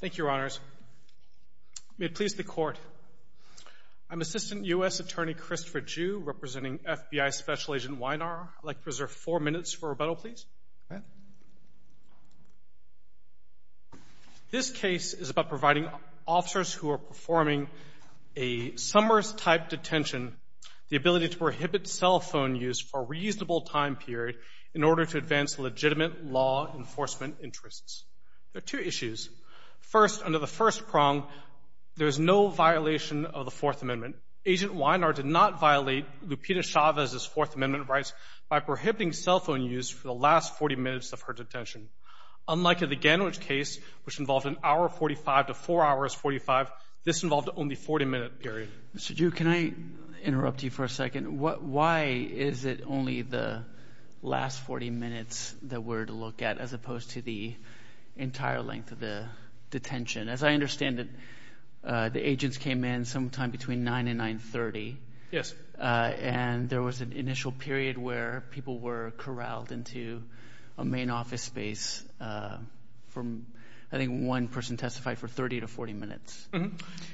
Thank you, Your Honors. May it please the Court, I'm Assistant U.S. Attorney Christopher Jew, representing FBI Special Agent Wynar. I'd like to reserve four minutes for rebuttal, please. This case is about providing officers who are performing a summers-type detention the ability to prohibit cell phone use for a reasonable time period in order to advance legitimate law enforcement interests. There are two issues. First, under the first prong, there is no violation of the Fourth Amendment. Agent Wynar did not violate Lupita Chavez's Fourth Amendment rights by prohibiting cell phone use for the last 40 minutes of her detention. Unlike the Gandwich case, which involved an hour 45 to four hours 45, this involved only a 40-minute period. Mr. Jew, can I interrupt you for a second? Why is it only the last 40 minutes that we're to look at as opposed to the entire length of the detention? As I understand it, the agents came in sometime between 9 and 9.30, and there was an initial period where people were corralled into a main office space. I think one person testified for 30 to 40 minutes.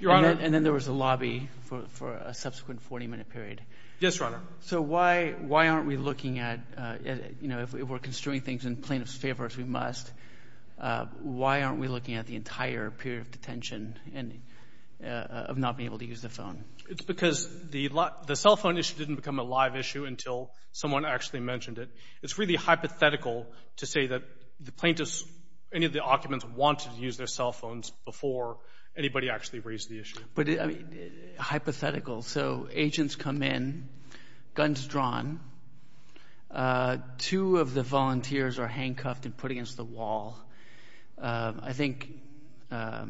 Your Honor. And then there was a lobby for a subsequent 40-minute period. Yes, Your Honor. So why aren't we looking at, you know, if we're construing things in plaintiff's favor, as we must, why aren't we looking at the entire period of detention of not being able to use the phone? It's because the cell phone issue didn't become a live issue until someone actually mentioned it. It's really hypothetical to say that the plaintiffs, any of the occupants, wanted to use their cell phones before anybody actually raised the issue. But, I mean, hypothetical. So agents come in, guns drawn. Two of the volunteers are handcuffed and put against the wall. I think the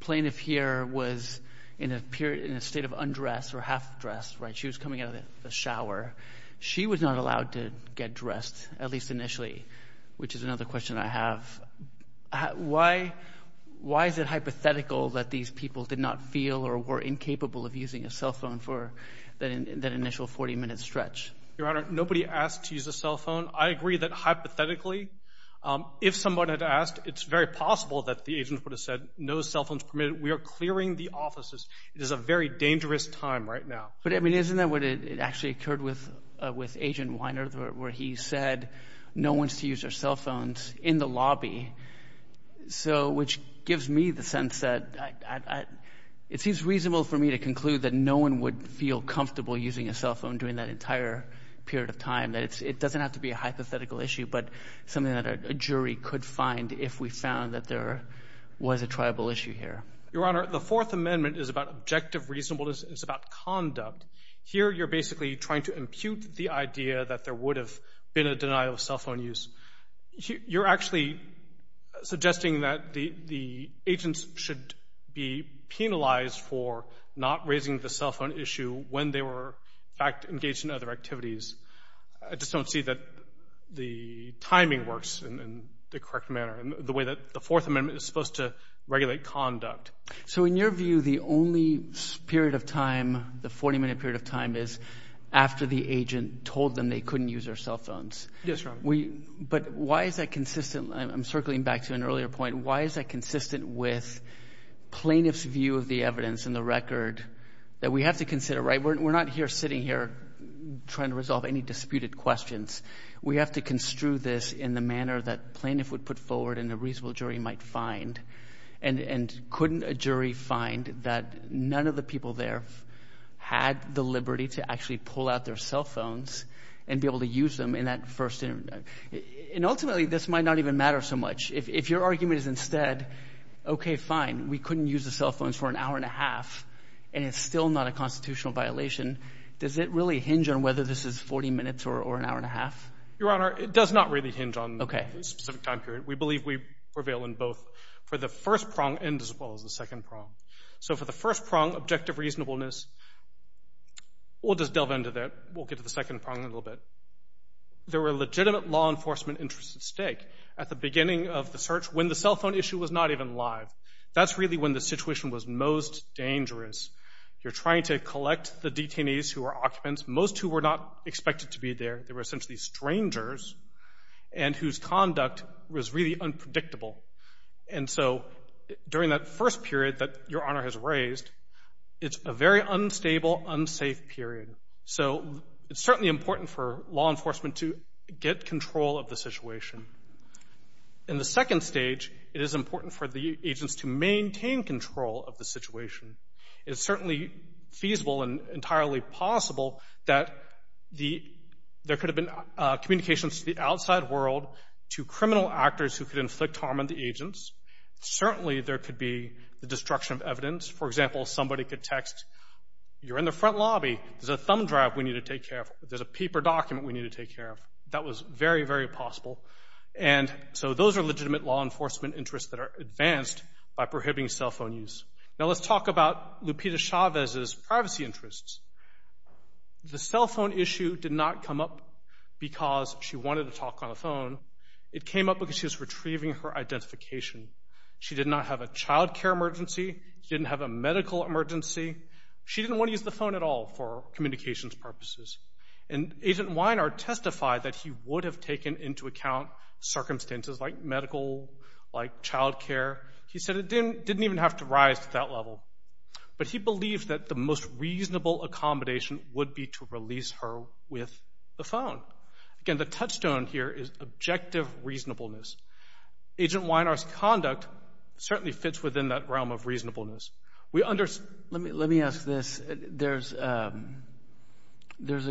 plaintiff here was in a period, in a state of undress or half-dress, right? She was coming out of the shower. She was not allowed to Why is it hypothetical that these people did not feel or were incapable of using a cell phone for that initial 40-minute stretch? Your Honor, nobody asked to use a cell phone. I agree that, hypothetically, if someone had asked, it's very possible that the agent would have said, no cell phones permitted. We are clearing the offices. It is a very dangerous time right now. But, I mean, isn't that what actually occurred with Agent Weiner, where he said, no one's to use their cell phones in the lobby? So, which gives me the sense that it seems reasonable for me to conclude that no one would feel comfortable using a cell phone during that entire period of time, that it doesn't have to be a hypothetical issue, but something that a jury could find if we found that there was a tribal issue here. Your Honor, the Fourth Amendment is about objective reasonableness. It's about conduct. Here you're basically trying to impute the idea that there would have been a denial of conduct. You're actually suggesting that the agents should be penalized for not raising the cell phone issue when they were, in fact, engaged in other activities. I just don't see that the timing works in the correct manner, the way that the Fourth Amendment is supposed to regulate conduct. So in your view, the only period of time, the 40-minute period of time, is after the agent told them they couldn't use their cell phones. Yes, Your Honor. But why is that consistent? I'm circling back to an earlier point. Why is that consistent with plaintiff's view of the evidence in the record that we have to consider, right? We're not here sitting here trying to resolve any disputed questions. We have to construe this in the manner that plaintiff would put forward and a reasonable jury might find. And couldn't a jury find that none of the people there had the liberty to actually pull out their cell phones? And ultimately, this might not even matter so much. If your argument is instead, okay, fine, we couldn't use the cell phones for an hour and a half, and it's still not a constitutional violation, does it really hinge on whether this is 40 minutes or an hour and a half? Your Honor, it does not really hinge on the specific time period. We believe we prevail in both. For the first prong, and as well as the second prong. So for the first prong, objective reasonableness, we'll just delve into that. We'll get to the second prong in a little bit. There were legitimate law enforcement interests at stake at the beginning of the search when the cell phone issue was not even live. That's really when the situation was most dangerous. You're trying to collect the detainees who were occupants, most who were not expected to be there. They were essentially strangers and whose conduct was really unpredictable. And so during that first period that Your Honor has raised, it's a very unstable, unsafe period. So it's certainly important for law enforcement to get control of the situation. In the second stage, it is important for the agents to maintain control of the situation. It's certainly feasible and entirely possible that there could have been communications to the outside world, to criminal actors who could inflict harm on the agents. Certainly there could be the destruction of evidence. For example, somebody could text, you're in the front lobby, there's a thumb drive we need to take care of. There's a paper document we need to take care of. That was very, very possible. And so those are legitimate law enforcement interests that are advanced by prohibiting cell phone use. Now let's talk about Lupita Chavez's privacy interests. The cell phone issue did not come up because she wanted to talk on the phone. It came up because she was retrieving her identification. She did not have a child care emergency. She didn't have a medical emergency. She didn't want to use the phone at all for communications purposes. And Agent Weiner testified that he would have taken into account circumstances like medical, like child care. He said it didn't even have to rise to that level. But he believed that the most reasonable accommodation would be to release her with the phone. Again, the touchstone here is objective reasonableness. Agent Weiner's conduct certainly fits within that realm of reasonableness. Let me ask this. There's a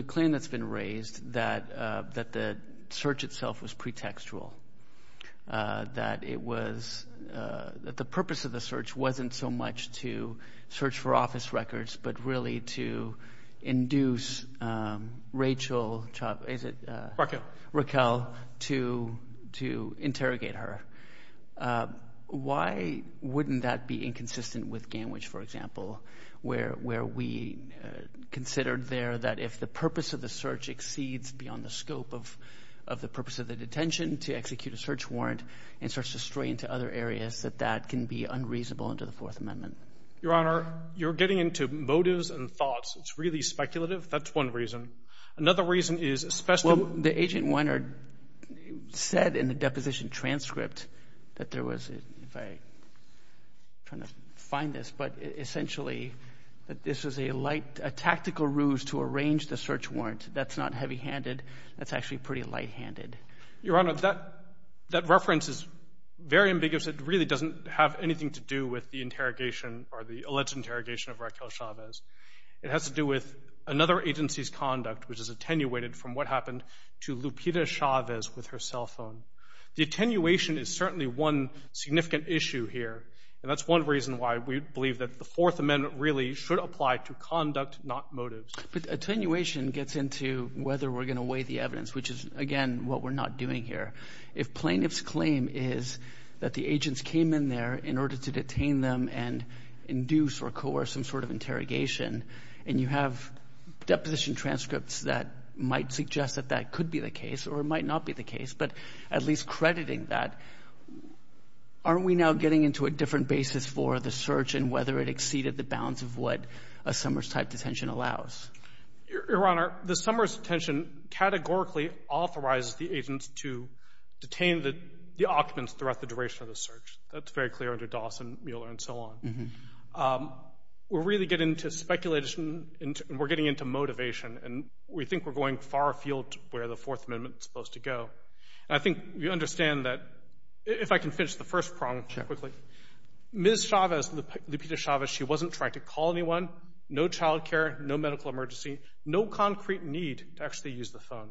claim that's been raised that the search itself was pretextual. That it was, that the purpose of the search wasn't so much to search for office records, but really to induce Rachel Chavez, is it Raquel, to interrogate her. Why wouldn't that be inconsistent with GANWICH, for example, where we considered there that if the purpose of the search exceeds beyond the scope of the purpose of the detention, to execute a search warrant and search the story into other areas, that that can be unreasonable under the Fourth Amendment? Your Honor, you're getting into motives and thoughts. It's really speculative. That's one reason. Another reason is especially Well, the Agent Weiner said in the deposition transcript that there was, if I, I don't know if you're trying to find this, but essentially that this was a light, a tactical ruse to arrange the search warrant. That's not heavy-handed. That's actually pretty light-handed. Your Honor, that, that reference is very ambiguous. It really doesn't have anything to do with the interrogation or the alleged interrogation of Raquel Chavez. It has to do with another agency's conduct, which is attenuated from what happened to Lupita Chavez with her cell And that's another reason why we believe that the Fourth Amendment really should apply to conduct, not motives. But attenuation gets into whether we're going to weigh the evidence, which is, again, what we're not doing here. If plaintiff's claim is that the agents came in there in order to detain them and induce or coerce some sort of interrogation, and you have deposition transcripts that might suggest that that could be the case or it might not be the case, but at least crediting that, aren't we now getting into a different basis for the search and whether it exceeded the bounds of what a Summers-type detention allows? Your Honor, the Summers detention categorically authorizes the agents to detain the, the occupants throughout the duration of the search. That's very clear under Dawson, Mueller, and so on. We're really getting into speculation and we're getting into motivation, and we think we're going far afield where the Fourth Amendment is supposed to go. I think you understand that, if I can finish the first prong quickly, Ms. Chavez, Lupita Chavez, she wasn't trying to call anyone, no child care, no medical emergency, no concrete need to actually use the phone.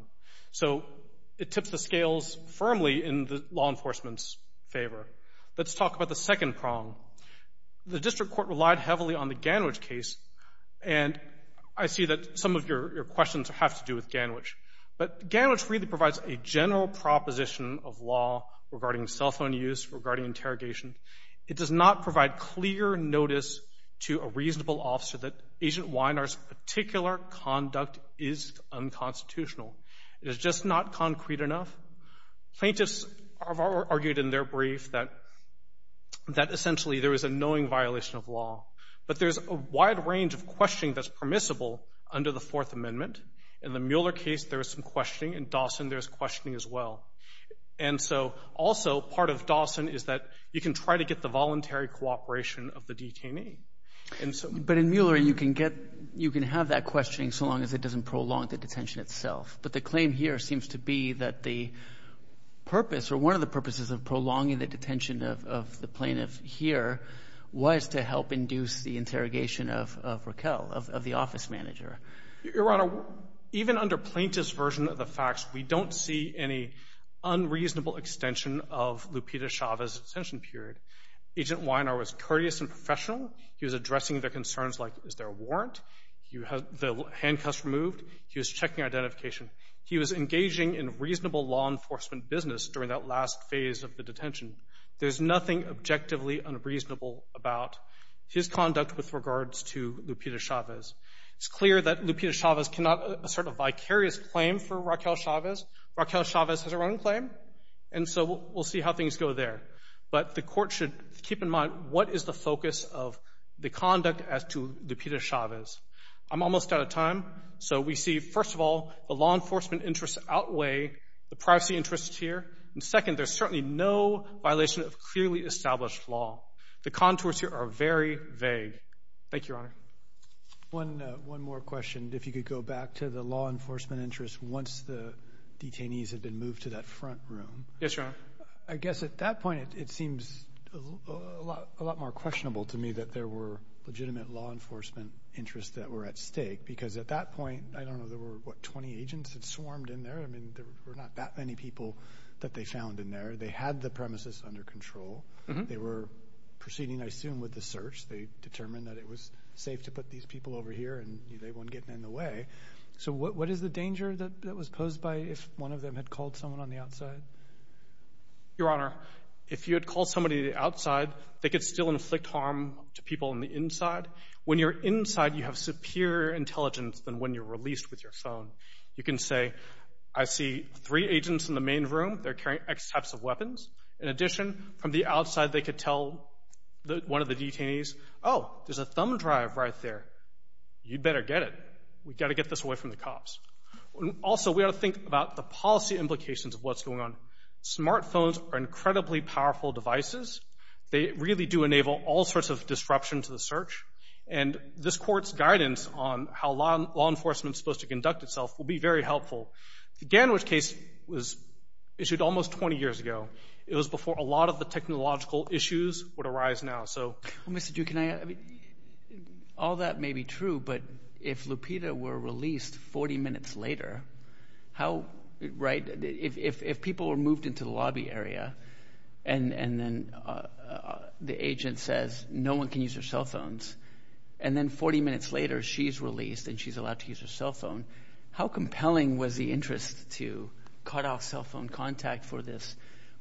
So, it tips the scales firmly in the law enforcement's favor. Let's talk about the second prong. The District Court relied heavily on the Ganwich case, and I see that some of your, your questions have to do with Ganwich. But Ganwich really provides a general proposition of law regarding cell phone use, regarding interrogation. It does not provide clear notice to a reasonable officer that Agent Weiner's particular conduct is unconstitutional. It is just not concrete enough. Plaintiffs have argued in their brief that, that essentially there is a knowing violation of law. But there's a wide range of questioning that's permissible under the Fourth Amendment. In the Mueller case, there was some questioning. In Dawson, there's questioning as well. And so, also, part of Dawson is that you can try to get the voluntary cooperation of the detainee. And so — But in Mueller, you can get, you can have that questioning so long as it doesn't prolong the detention itself. But the claim here seems to be that the purpose, or one of the purposes of prolonging the detention of, of the plaintiff here was to help induce the interrogation of, of Raquel, of, of the office manager. Your Honor, even under plaintiff's version of the facts, we don't see any unreasonable extension of Lupita Chavez's detention period. Agent Weiner was courteous and professional. He was addressing the concerns like, is there a warrant? You had the handcuffs removed. He was checking identification. He was engaging in reasonable law enforcement business during that last phase of the detention. There's nothing objectively unreasonable about his conduct with regards to Lupita Chavez. It's clear that Lupita Chavez cannot assert a vicarious claim for Raquel Chavez. Raquel Chavez has her own claim. And so we'll see how things go there. But the Court should keep in mind what is the focus of the conduct as to Lupita Chavez. I'm almost out of time. So we see, first of all, the law enforcement interests outweigh the privacy interests here. And second, there's certainly no violation of clearly established law. The contours here are very vague. Thank you, Your Honor. One, one more question. If you could go back to the law enforcement interests once the detainees had been moved to that front room. Yes, Your Honor. I guess at that point, it seems a lot, a lot more questionable to me that there were legitimate law enforcement interests that were at stake. Because at that point, I don't know, there were, what, 20 agents that swarmed in there? I mean, there were not that many people that they found in there. They had the premises under control. They were proceeding, I assume, with the search. They determined that it was safe to put these people over here and they weren't getting in the way. So what is the danger that was posed by if one of them had called someone on the outside? Your Honor, if you had called somebody outside, they could still inflict harm to people on the inside. When you're inside, you have superior intelligence than when you're released with your phone. You can say, I see three agents in the main room. They're carrying X types of weapons. In addition, from the outside, they could tell one of the detainees, oh, there's a thumb drive right there. You'd better get it. We've got to get this away from the cops. Also we ought to think about the policy implications of what's going on. Smart phones are incredibly powerful devices. They really do enable all sorts of disruption to the search. And this conduct itself will be very helpful. The Gandwich case was issued almost 20 years ago. It was before a lot of the technological issues would arise now. So Mr. Duke, all that may be true, but if Lupita were released 40 minutes later, how – right? If people were moved into the lobby area and then the agent says, no one can use their cell phones, and then 40 minutes later, she's released and she's allowed to use her cell phone, how compelling was the interest to cut off cell phone contact for this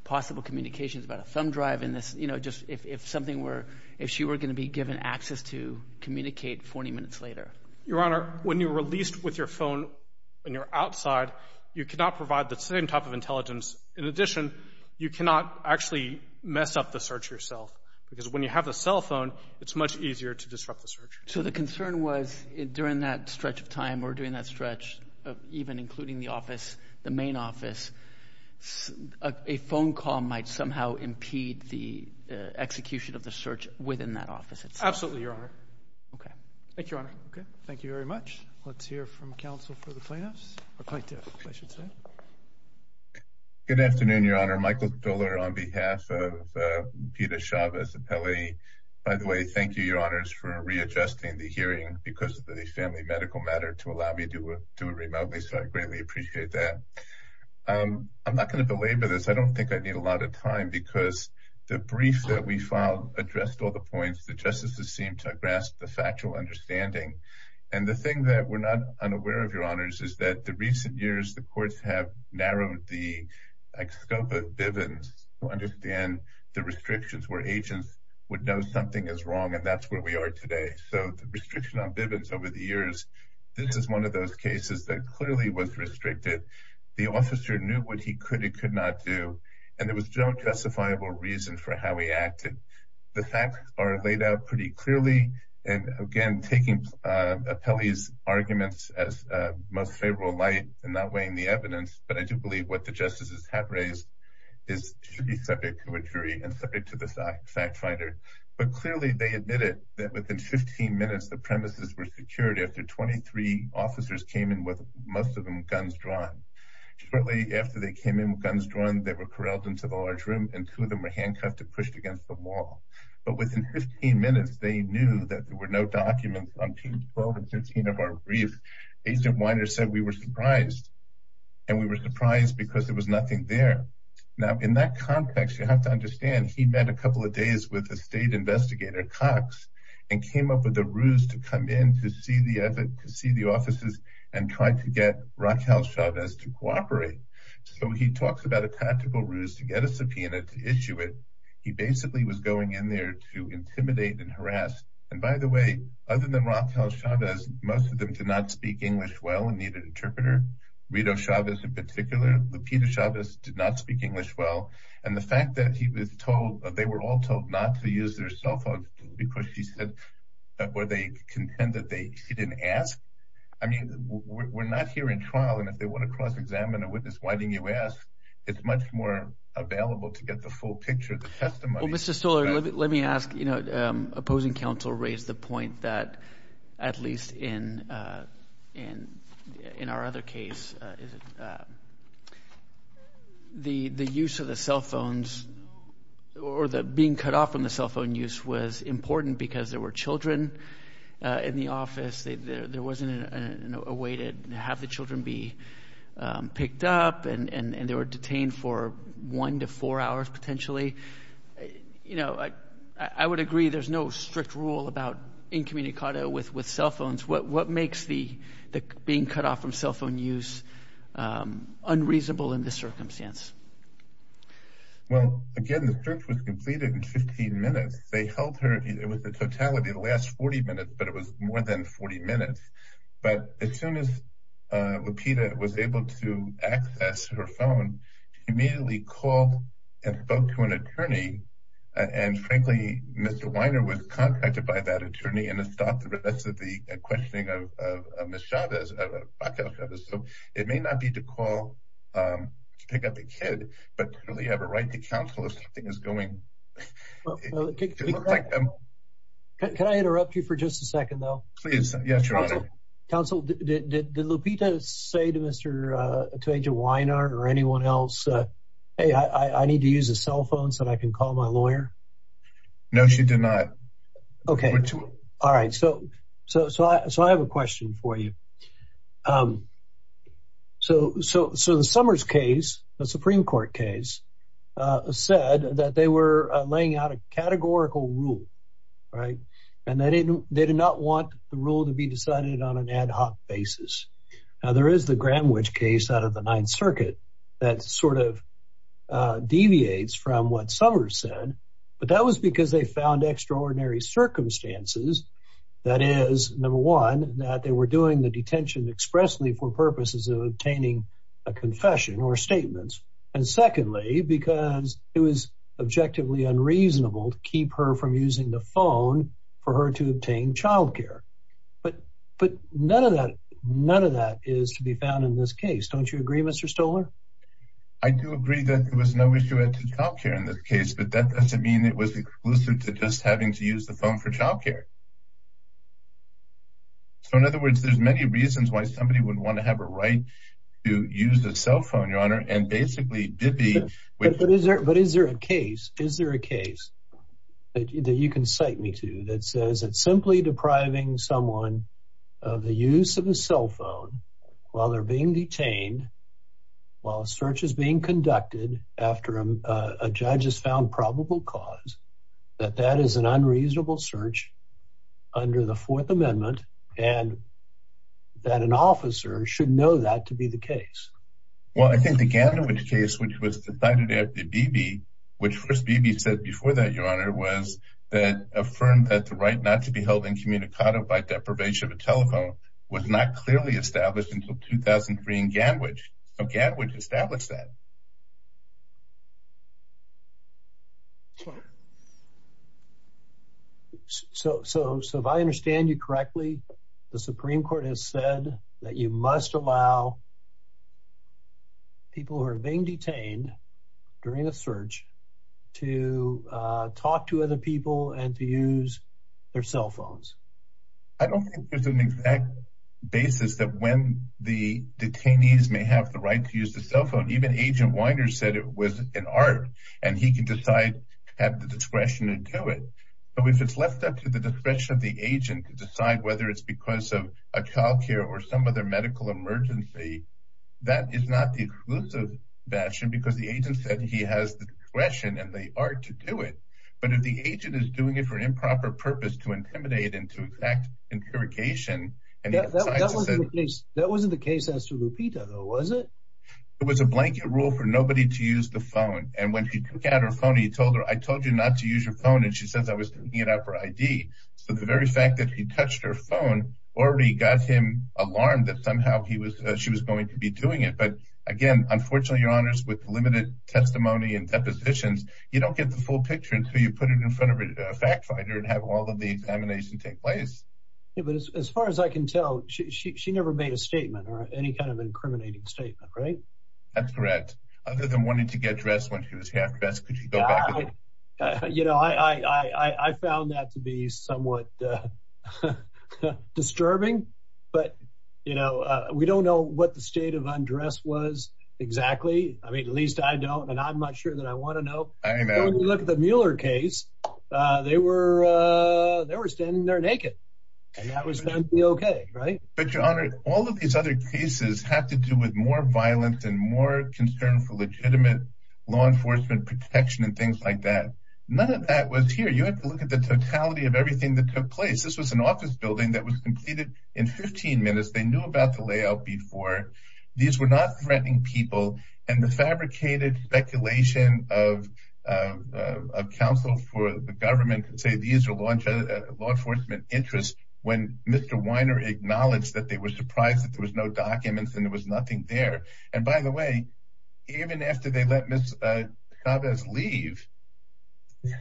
possible communications about a thumb drive and this – you know, just if something were – if she were going to be given access to communicate 40 minutes later? Your Honor, when you're released with your phone and you're outside, you cannot provide the same type of intelligence. In addition, you cannot actually mess up the search yourself because when you have the cell phone, it's much easier to disrupt the search. So the concern was during that stretch of time or during that stretch of even including the office, the main office, a phone call might somehow impede the execution of the search within that office itself? Absolutely, Your Honor. Okay. Thank you, Your Honor. Okay. Thank you very much. Let's hear from counsel for the plaintiffs. Good afternoon, Your Honor. Michael Dohler on behalf of Lupita Chavez. By the way, thank you, Your Honors, for readjusting the hearing because of the family medical matter to allow me to do it remotely. So I greatly appreciate that. I'm not going to belabor this. I don't think I need a lot of time because the brief that we filed addressed all the points. The justices seemed to grasp the factual understanding. And the thing that we're not unaware of, Your Honors, is that the recent years, the courts have narrowed the scope of Bivens to understand the restrictions where agents would know something is wrong and that's where we are today. So the restriction on Bivens over the years, this is one of those cases that clearly was restricted. The officer knew what he could and could not do. And there was no justifiable reason for how he acted. The facts are laid out pretty clearly. And again, taking Apelli's arguments as most favorable light and not weighing the evidence, but I think what the justices have raised should be subject to a jury and subject to the fact finder. But clearly, they admitted that within 15 minutes, the premises were secured after 23 officers came in with, most of them, guns drawn. Shortly after they came in with guns drawn, they were corralled into the large room and two of them were handcuffed and pushed against the wall. But within 15 minutes, they knew that there were no documents on page 1. And that's why I said we were surprised. And we were surprised because there was nothing there. Now in that context, you have to understand he met a couple of days with a state investigator, Cox, and came up with a ruse to come in to see the offices and try to get Raquel Chavez to cooperate. So he talks about a tactical ruse to get a subpoena to issue it. He basically was going in there to intimidate and harass. And by the way, other than Raquel Chavez, most of them did not speak English well and needed an interpreter. Rito Chavez in particular, Lupita Chavez did not speak English well. And the fact that they were all told not to use their cell phones because she said, or they contended she didn't ask. I mean, we're not here in trial. And if they want to cross-examine a witness, why didn't you ask? It's much more available to get the full picture of the testimony. Let me ask, you know, opposing counsel raised the point that at least in our other case, the use of the cell phones or the being cut off from the cell phone use was important because there were children in the office. There wasn't a way to have the children be picked up and they detained for one to four hours potentially. You know, I would agree there's no strict rule about incommunicado with cell phones. What makes the being cut off from cell phone use unreasonable in this circumstance? Well, again, the search was completed in 15 minutes. They held her. It was the totality of the last 40 minutes, but it was more than 40 minutes. But as soon as access to her phone, she immediately called and spoke to an attorney. And frankly, Mr. Weiner was contacted by that attorney and it stopped the rest of the questioning of Ms. Chavez. It may not be to call to pick up the kid, but to really have a right to counsel if something is going... Can I interrupt you for just a second though? Please. Yes, Your Honor. Counsel, did you tell Agent Weiner or anyone else, hey, I need to use a cell phone so that I can call my lawyer? No, she did not. Okay. All right. So I have a question for you. So the Summers case, the Supreme Court case, said that they were laying out a categorical rule, right? And they did not want the rule to be decided on an ad hoc basis. Now there is the Ninth Circuit that sort of deviates from what Summers said, but that was because they found extraordinary circumstances. That is, number one, that they were doing the detention expressly for purposes of obtaining a confession or statements. And secondly, because it was objectively unreasonable to keep her from using the phone for her to obtain childcare. But none of that is to be found in this case. Don't you agree, Mr. Stoller? I do agree that there was no issue with childcare in this case, but that doesn't mean it was exclusive to just having to use the phone for childcare. So in other words, there's many reasons why somebody would want to have a right to use a cell phone, Your Honor, and basically did be... But is there a case, is there a case that you can cite me to that says it's simply depriving someone of the use of a cell phone while they're being detained, while a search is being conducted after a judge has found probable cause, that that is an unreasonable search under the Fourth Amendment and that an officer should know that to be the case? Well, I think the Ganderwitch case, which was decided after Beebe, which first Beebe said before that, Your Honor, was that affirmed that the right not to be held incommunicado by deprivation of a telephone was not clearly established until 2003 in Ganderwitch. So Ganderwitch established that. So if I understand you correctly, the Supreme Court has said that you must allow people who are being detained during a search to talk to other people and to use their cell phones. I don't think there's an exact basis that when the detainees may have the right to use the cell phone, even Agent Weiner said it was an art and he can decide to have the discretion to do it. But if it's left up to the discretion of the agent to decide whether it's because of a childcare or some other medical emergency, that is not the exclusive fashion because the agent said he has the discretion and the art to do it. But if the agent is doing it for improper purpose to intimidate into exact interrogation, and that wasn't the case as to Lupita, though, was it? It was a blanket rule for nobody to use the phone. And when he took out her phone, he told her, I told you not to use your phone. And she says I was looking it up for ID. So the very fact that he touched her phone already got him alarmed that somehow he was she was going to be doing it. But again, unfortunately, your honors with limited testimony and depositions, you don't get the full picture until you put it in front of a fact finder and have all of the examination take place. But as far as I can tell, she never made a statement or any kind of incriminating statement, right? That's correct. Other than wanting to get dressed when she was half dressed. I, you know, I found that to be somewhat disturbing. But, you know, we don't know what the state of undress was. Exactly. I mean, at least I don't and I'm not sure that I want to know. I look at the Mueller case. They were they were standing there naked. And that was okay. Right. But your honor, all of these other cases have to do with more violence and more concern for legitimate law enforcement protection and things like that. None of that was here. You have to look at the totality of everything that took place. This was an office building that was completed in 15 minutes. They knew about the layout before. These were not threatening people. And the fabricated speculation of a council for the government to say these are law enforcement interests when Mr. Weiner acknowledged that they were surprised that there was no documents and there was nothing there. And by the way, even after they let Miss Chavez leave,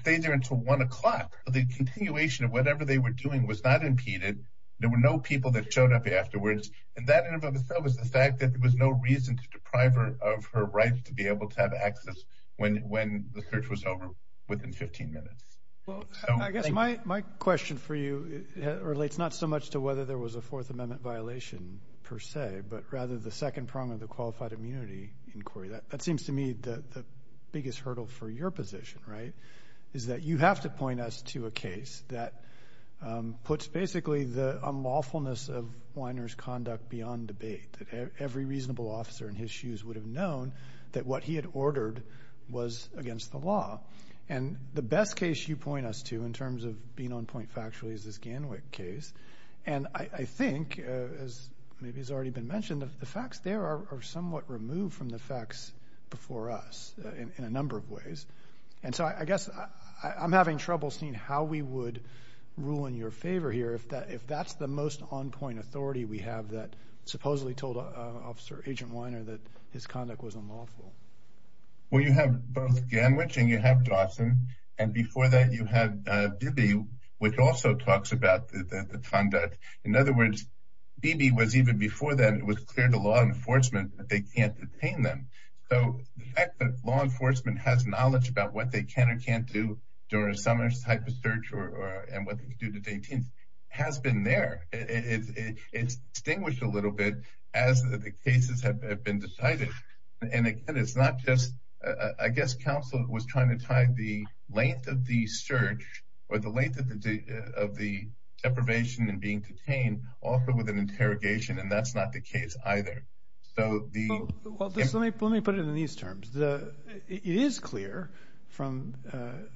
they there until one o'clock. The continuation of whatever they were doing was not impeded. There were no people that showed up afterwards. And that in and of itself is the fact that there was no reason to deprive her of her rights to be able to have access when when the search was over within 15 minutes. Well, I guess my my question for you relates not so much to whether there was a Fourth Amendment violation per se, but rather the second prong of the qualified immunity inquiry. That seems to me the biggest hurdle for your position, right, is that you have to point us to a case that puts basically the unlawfulness of Weiner's conduct beyond debate. Every reasonable officer in his shoes would have known that what he had ordered was against the law. And the best you point us to in terms of being on point factually is this Ganwich case. And I think, as maybe has already been mentioned, the facts there are somewhat removed from the facts before us in a number of ways. And so I guess I'm having trouble seeing how we would rule in your favor here if that if that's the most on point authority we have that supposedly told Officer Agent Weiner that his conduct was unlawful. Well, you have both Ganwich and you have Dawson. And before that, you have Bibi, which also talks about the conduct. In other words, Bibi was even before then it was clear to law enforcement that they can't detain them. So the fact that law enforcement has knowledge about what they can or can't do during a summons type of search or and what they can do has been there. It's distinguished a little bit as the cases have been decided. And again, it's not just I guess counsel was trying to tie the length of the search or the length of the deprivation and being detained also with an interrogation. And that's not the case either. So the well, let me put it in these terms. It is clear from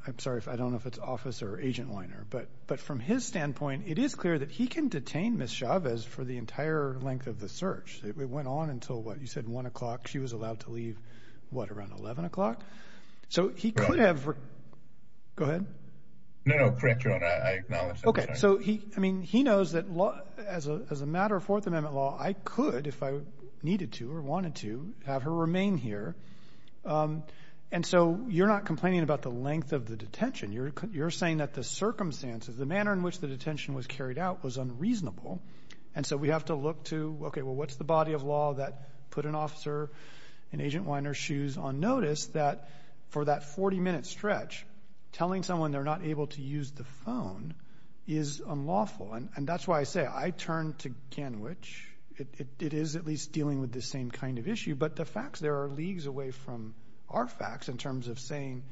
I'm sorry if I don't know if it's Officer Agent Weiner, but but from his standpoint, it is clear that he can detain Miss Chavez for the entire length of the search. It went on until what you said, one o'clock. She was allowed to leave what around eleven o'clock. So he could have. Go ahead. No, no. Correct. I acknowledge. Okay. So he I mean, he knows that as a as a matter of Fourth Amendment law, I could if I needed to or wanted to have her remain here. And so you're not complaining about the length of the detention. You're saying that the circumstances, the manner in which the detention was carried out was unreasonable. And so we have to look to, okay, well, what's the body of law that put an officer in Agent Weiner's shoes on notice that for that 40 minute stretch, telling someone they're not able to use the phone is unlawful. And that's why I say I turn to Kenwich. It is at least dealing with the same kind of issue. But the facts there are leagues away from our facts in terms of saying,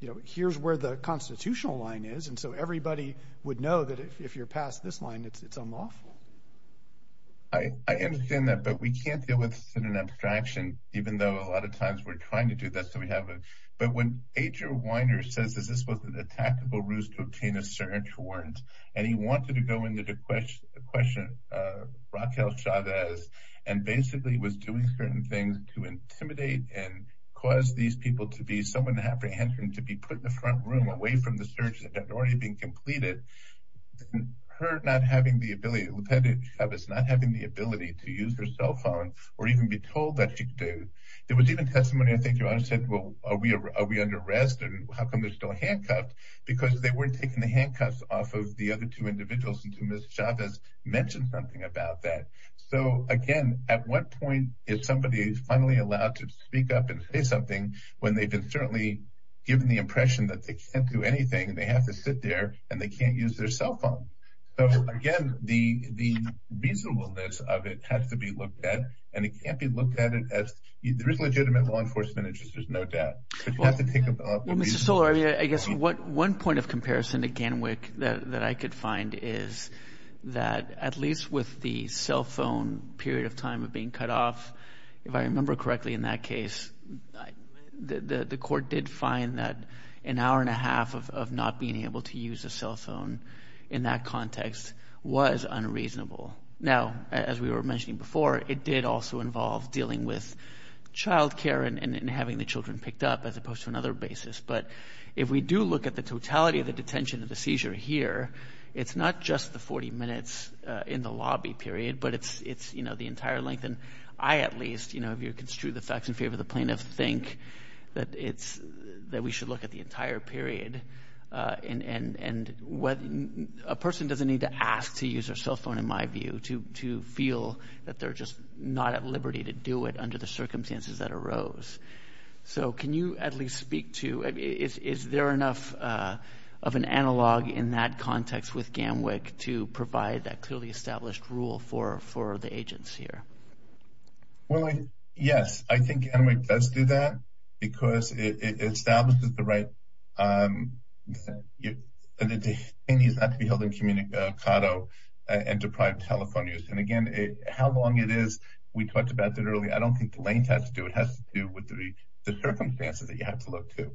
you know, here's where the constitutional line is. And so everybody would know that if you're past this line, it's unlawful. I understand that, but we can't deal with it in an abstraction, even though a lot of times we're trying to do that. So we haven't. But when Agent Weiner says this, this was a tactical ruse to obtain a search warrant, and he wanted to go into the question, the question, Raquel Chavez, and basically was doing certain things to intimidate and cause these people to be someone apprehensive and to be put in the front room away from the search that had already been completed. And her not having the ability, Raquel Chavez not having the ability to use her cell phone, or even be told that she could do. There was even testimony, I think your Honor said, well, are we are we under arrest? And how come they're still handcuffed? Because they weren't taking the handcuffs off of the other two individuals until Ms. Chavez mentioned something about that. So again, at what point is somebody finally allowed to speak up and say something when they've been certainly given the impression that they can't do anything, and they have to sit there, and they can't use their cell phone? So again, the reasonableness of it has to be looked at. And it can't be looked at it as there is legitimate law enforcement interests, there's no doubt. But you have to think about... Well, Mr. Stoller, I guess one point of comparison again, that I could find is that at least with the cell phone period of time being cut off, if I remember correctly in that case, the court did find that an hour and a half of not being able to use a cell phone in that context was unreasonable. Now, as we were mentioning before, it did also involve dealing with child care and having the children picked up as opposed to another basis. But if we do look at the totality of the detention of the seizure here, it's not just the 40 minutes in the lobby period, but it's the entire length. And I, at least, if you're construed the facts in favor of the plaintiff, think that we should look at the entire period. And a person doesn't need to ask to use their cell phone, in my view, to feel that they're just not at liberty to do it under the circumstances that arose. So can you at least speak to, is there enough of an analog in that context with GAMWICC to provide that clearly established rule for the agents here? Well, yes, I think GAMWICC does do that because it establishes the right, and it needs not to be held in communicado and deprived telephone use. And again, how long it is, we talked about that earlier. I don't think the length has to do, it has to do with the circumstances that you have to look to.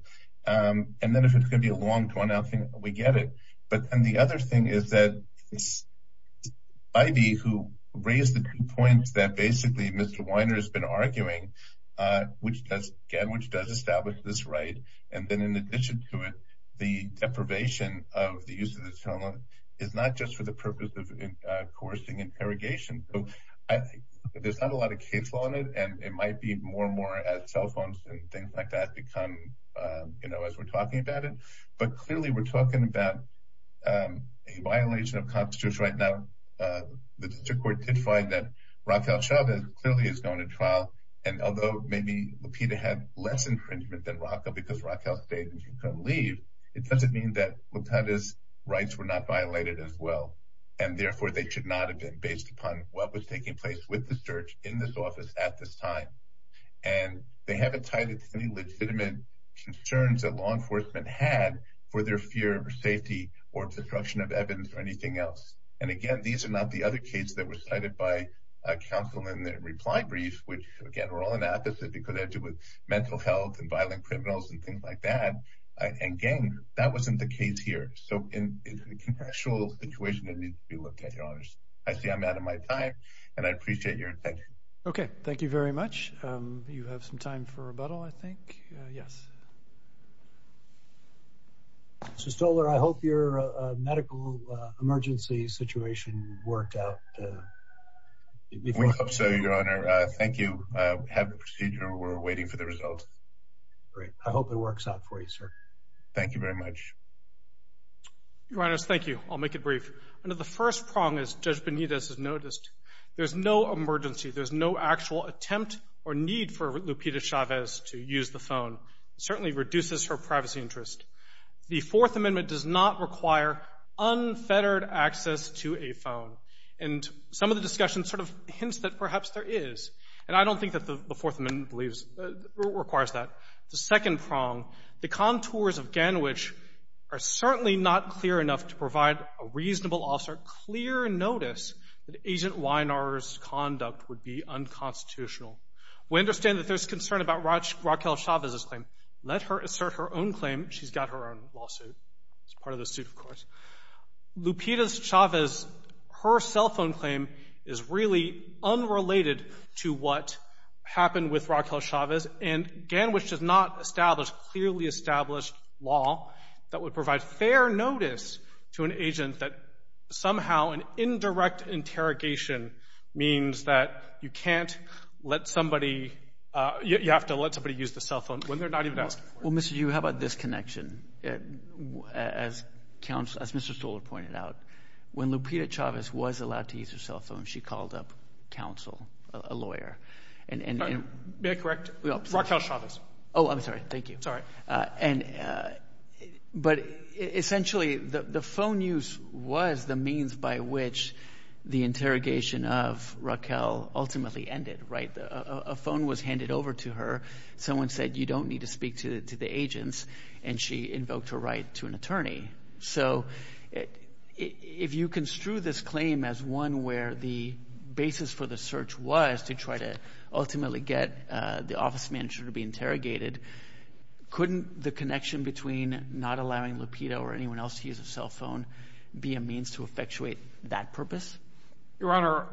And then if it's going to be a long drawn out thing, we get it. But then the other thing is that it's Ivey who raised the two points that basically Mr. Weiner has been arguing, which does establish this right. And then in addition to it, the deprivation of the use of the telephone is not just for the purpose of coercing interrogation. I think there's not a lot of case law in it. And it might be more and more as cell phones and things like that become, you know, as we're talking about it. But clearly, we're talking about a violation of Constitution right now. The district court did find that Raquel Chavez clearly is going to trial. And although maybe Lupita had less infringement than Raquel because Raquel stayed and didn't leave, it doesn't mean that Lupita's rights were not violated as well. And therefore, they should not have been based upon what was taking place with the search in this office at this time. And they haven't tied it to any legitimate concerns that law enforcement had for their fear or safety or obstruction of evidence or anything else. And again, these are not the other case that were cited by counsel in the reply brief, which again, we're all in opposite because they have to do with mental health and violent criminals and like that. And again, that wasn't the case here. So in the actual situation, it needs to be looked at, your honors. I see I'm out of my time, and I appreciate your attention. Okay, thank you very much. You have some time for rebuttal, I think. Yes. Mr. Stoller, I hope your medical emergency situation worked out. We hope so, your honor. Thank you. We have the procedure. We're waiting for the results. Great. I hope it works out for you, sir. Thank you very much. Your honors, thank you. I'll make it brief. Under the first prong, as Judge Benitez has noticed, there's no emergency. There's no actual attempt or need for Lupita Chavez to use the phone. It certainly reduces her privacy interest. The Fourth Amendment does not require unfettered access to a phone. And some of the discussion sort of hints that perhaps there is. And I don't think that the Fourth Amendment requires that. The second prong, the contours of Ganowich are certainly not clear enough to provide a reasonable officer clear notice that Agent Wiener's conduct would be unconstitutional. We understand that there's concern about Raquel Chavez's claim. Let her assert her own claim. She's got her own lawsuit. It's part of the suit, of course. Lupita Chavez, her cell phone claim is really unrelated to what happened with Raquel Chavez. And Ganowich does not establish clearly established law that would provide fair notice to an agent that somehow an indirect interrogation means that you can't let somebody — you have to let somebody use the cell phone when they're not even asked for it. Well, Mr. Yu, how about this connection? As Mr. Stoller pointed out, when Lupita Chavez was allowed to use her cell phone, she called up counsel, a lawyer. May I correct? Raquel Chavez. Oh, I'm sorry. Thank you. Sorry. But essentially, the phone use was the means by which the interrogation of Raquel ultimately ended, right? A phone was handed over to her. Someone said, you don't need to speak to the agents. And she invoked her right to an attorney. So if you construe this claim as one where the basis for the search was to try to ultimately get the office manager to be interrogated, couldn't the connection between not allowing Lupita or anyone else to use a cell phone be a means to effectuate that purpose? Your Honor,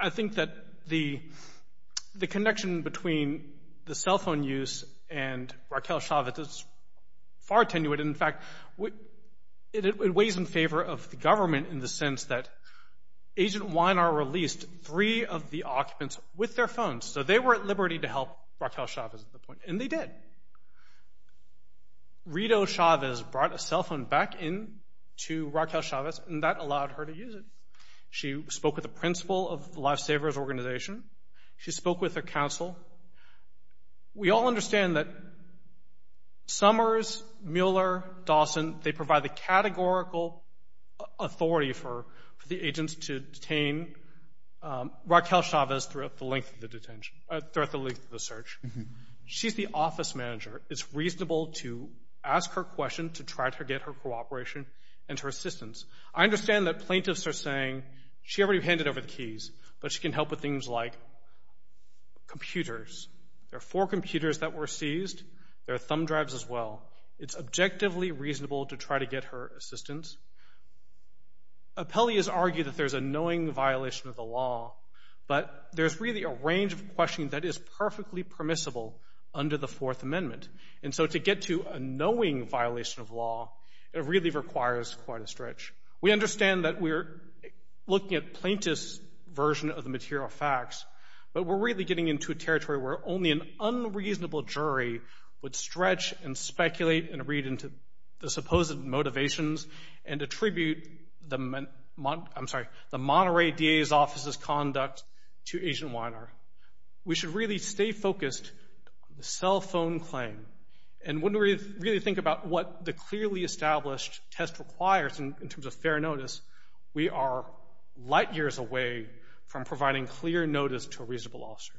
I think that the connection between the cell phone use and Raquel Chavez is far tenued. In fact, it weighs in favor of the government in the sense that Agent Weiner released three of the occupants with their phones. So they were at liberty to help Raquel Chavez at that point. And they did. And Rito Chavez brought a cell phone back in to Raquel Chavez, and that allowed her to use it. She spoke with the principal of the Lifesavers organization. She spoke with her counsel. We all understand that Summers, Mueller, Dawson, they provide the categorical authority for the agents to detain Raquel Chavez throughout the length of the search. She's the office manager. It's reasonable to ask her a question to try to get her cooperation and her assistance. I understand that plaintiffs are saying she already handed over the keys, but she can help with things like computers. There are four computers that were seized. There are thumb drives as well. It's objectively reasonable to try to get her assistance. Appellee has argued that there's a knowing violation of the law, but there's really a range of questioning that is perfectly permissible under the Fourth Amendment. And so to get to a knowing violation of law, it really requires quite a stretch. We understand that we're looking at plaintiff's version of the material facts, but we're really getting into a territory where only an unreasonable jury would stretch and to agent Weiner. We should really stay focused on the cell phone claim and wouldn't really think about what the clearly established test requires in terms of fair notice. We are light years away from providing clear notice to a reasonable officer.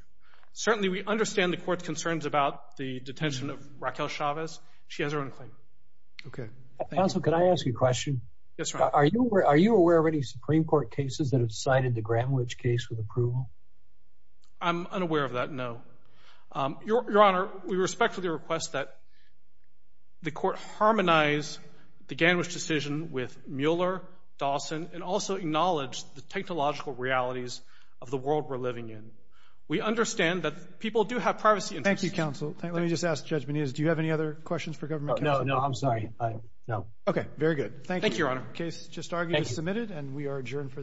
Certainly, we understand the court's concerns about the detention of Raquel Chavez. She has her own claim. Okay. Counsel, can I ask you a question? Yes, sir. Are you aware of any Supreme Court cases that have granted the Gandwich case with approval? I'm unaware of that, no. Your Honor, we respectfully request that the court harmonize the Gandwich decision with Mueller, Dawson, and also acknowledge the technological realities of the world we're living in. We understand that people do have privacy interests. Thank you, counsel. Let me just ask Judge Benitez, do you have any other questions for government counsel? No, no, I'm sorry. No. Okay, very good. Thank you, Your Honor. The case just argued is submitted and we are adjourned for this session.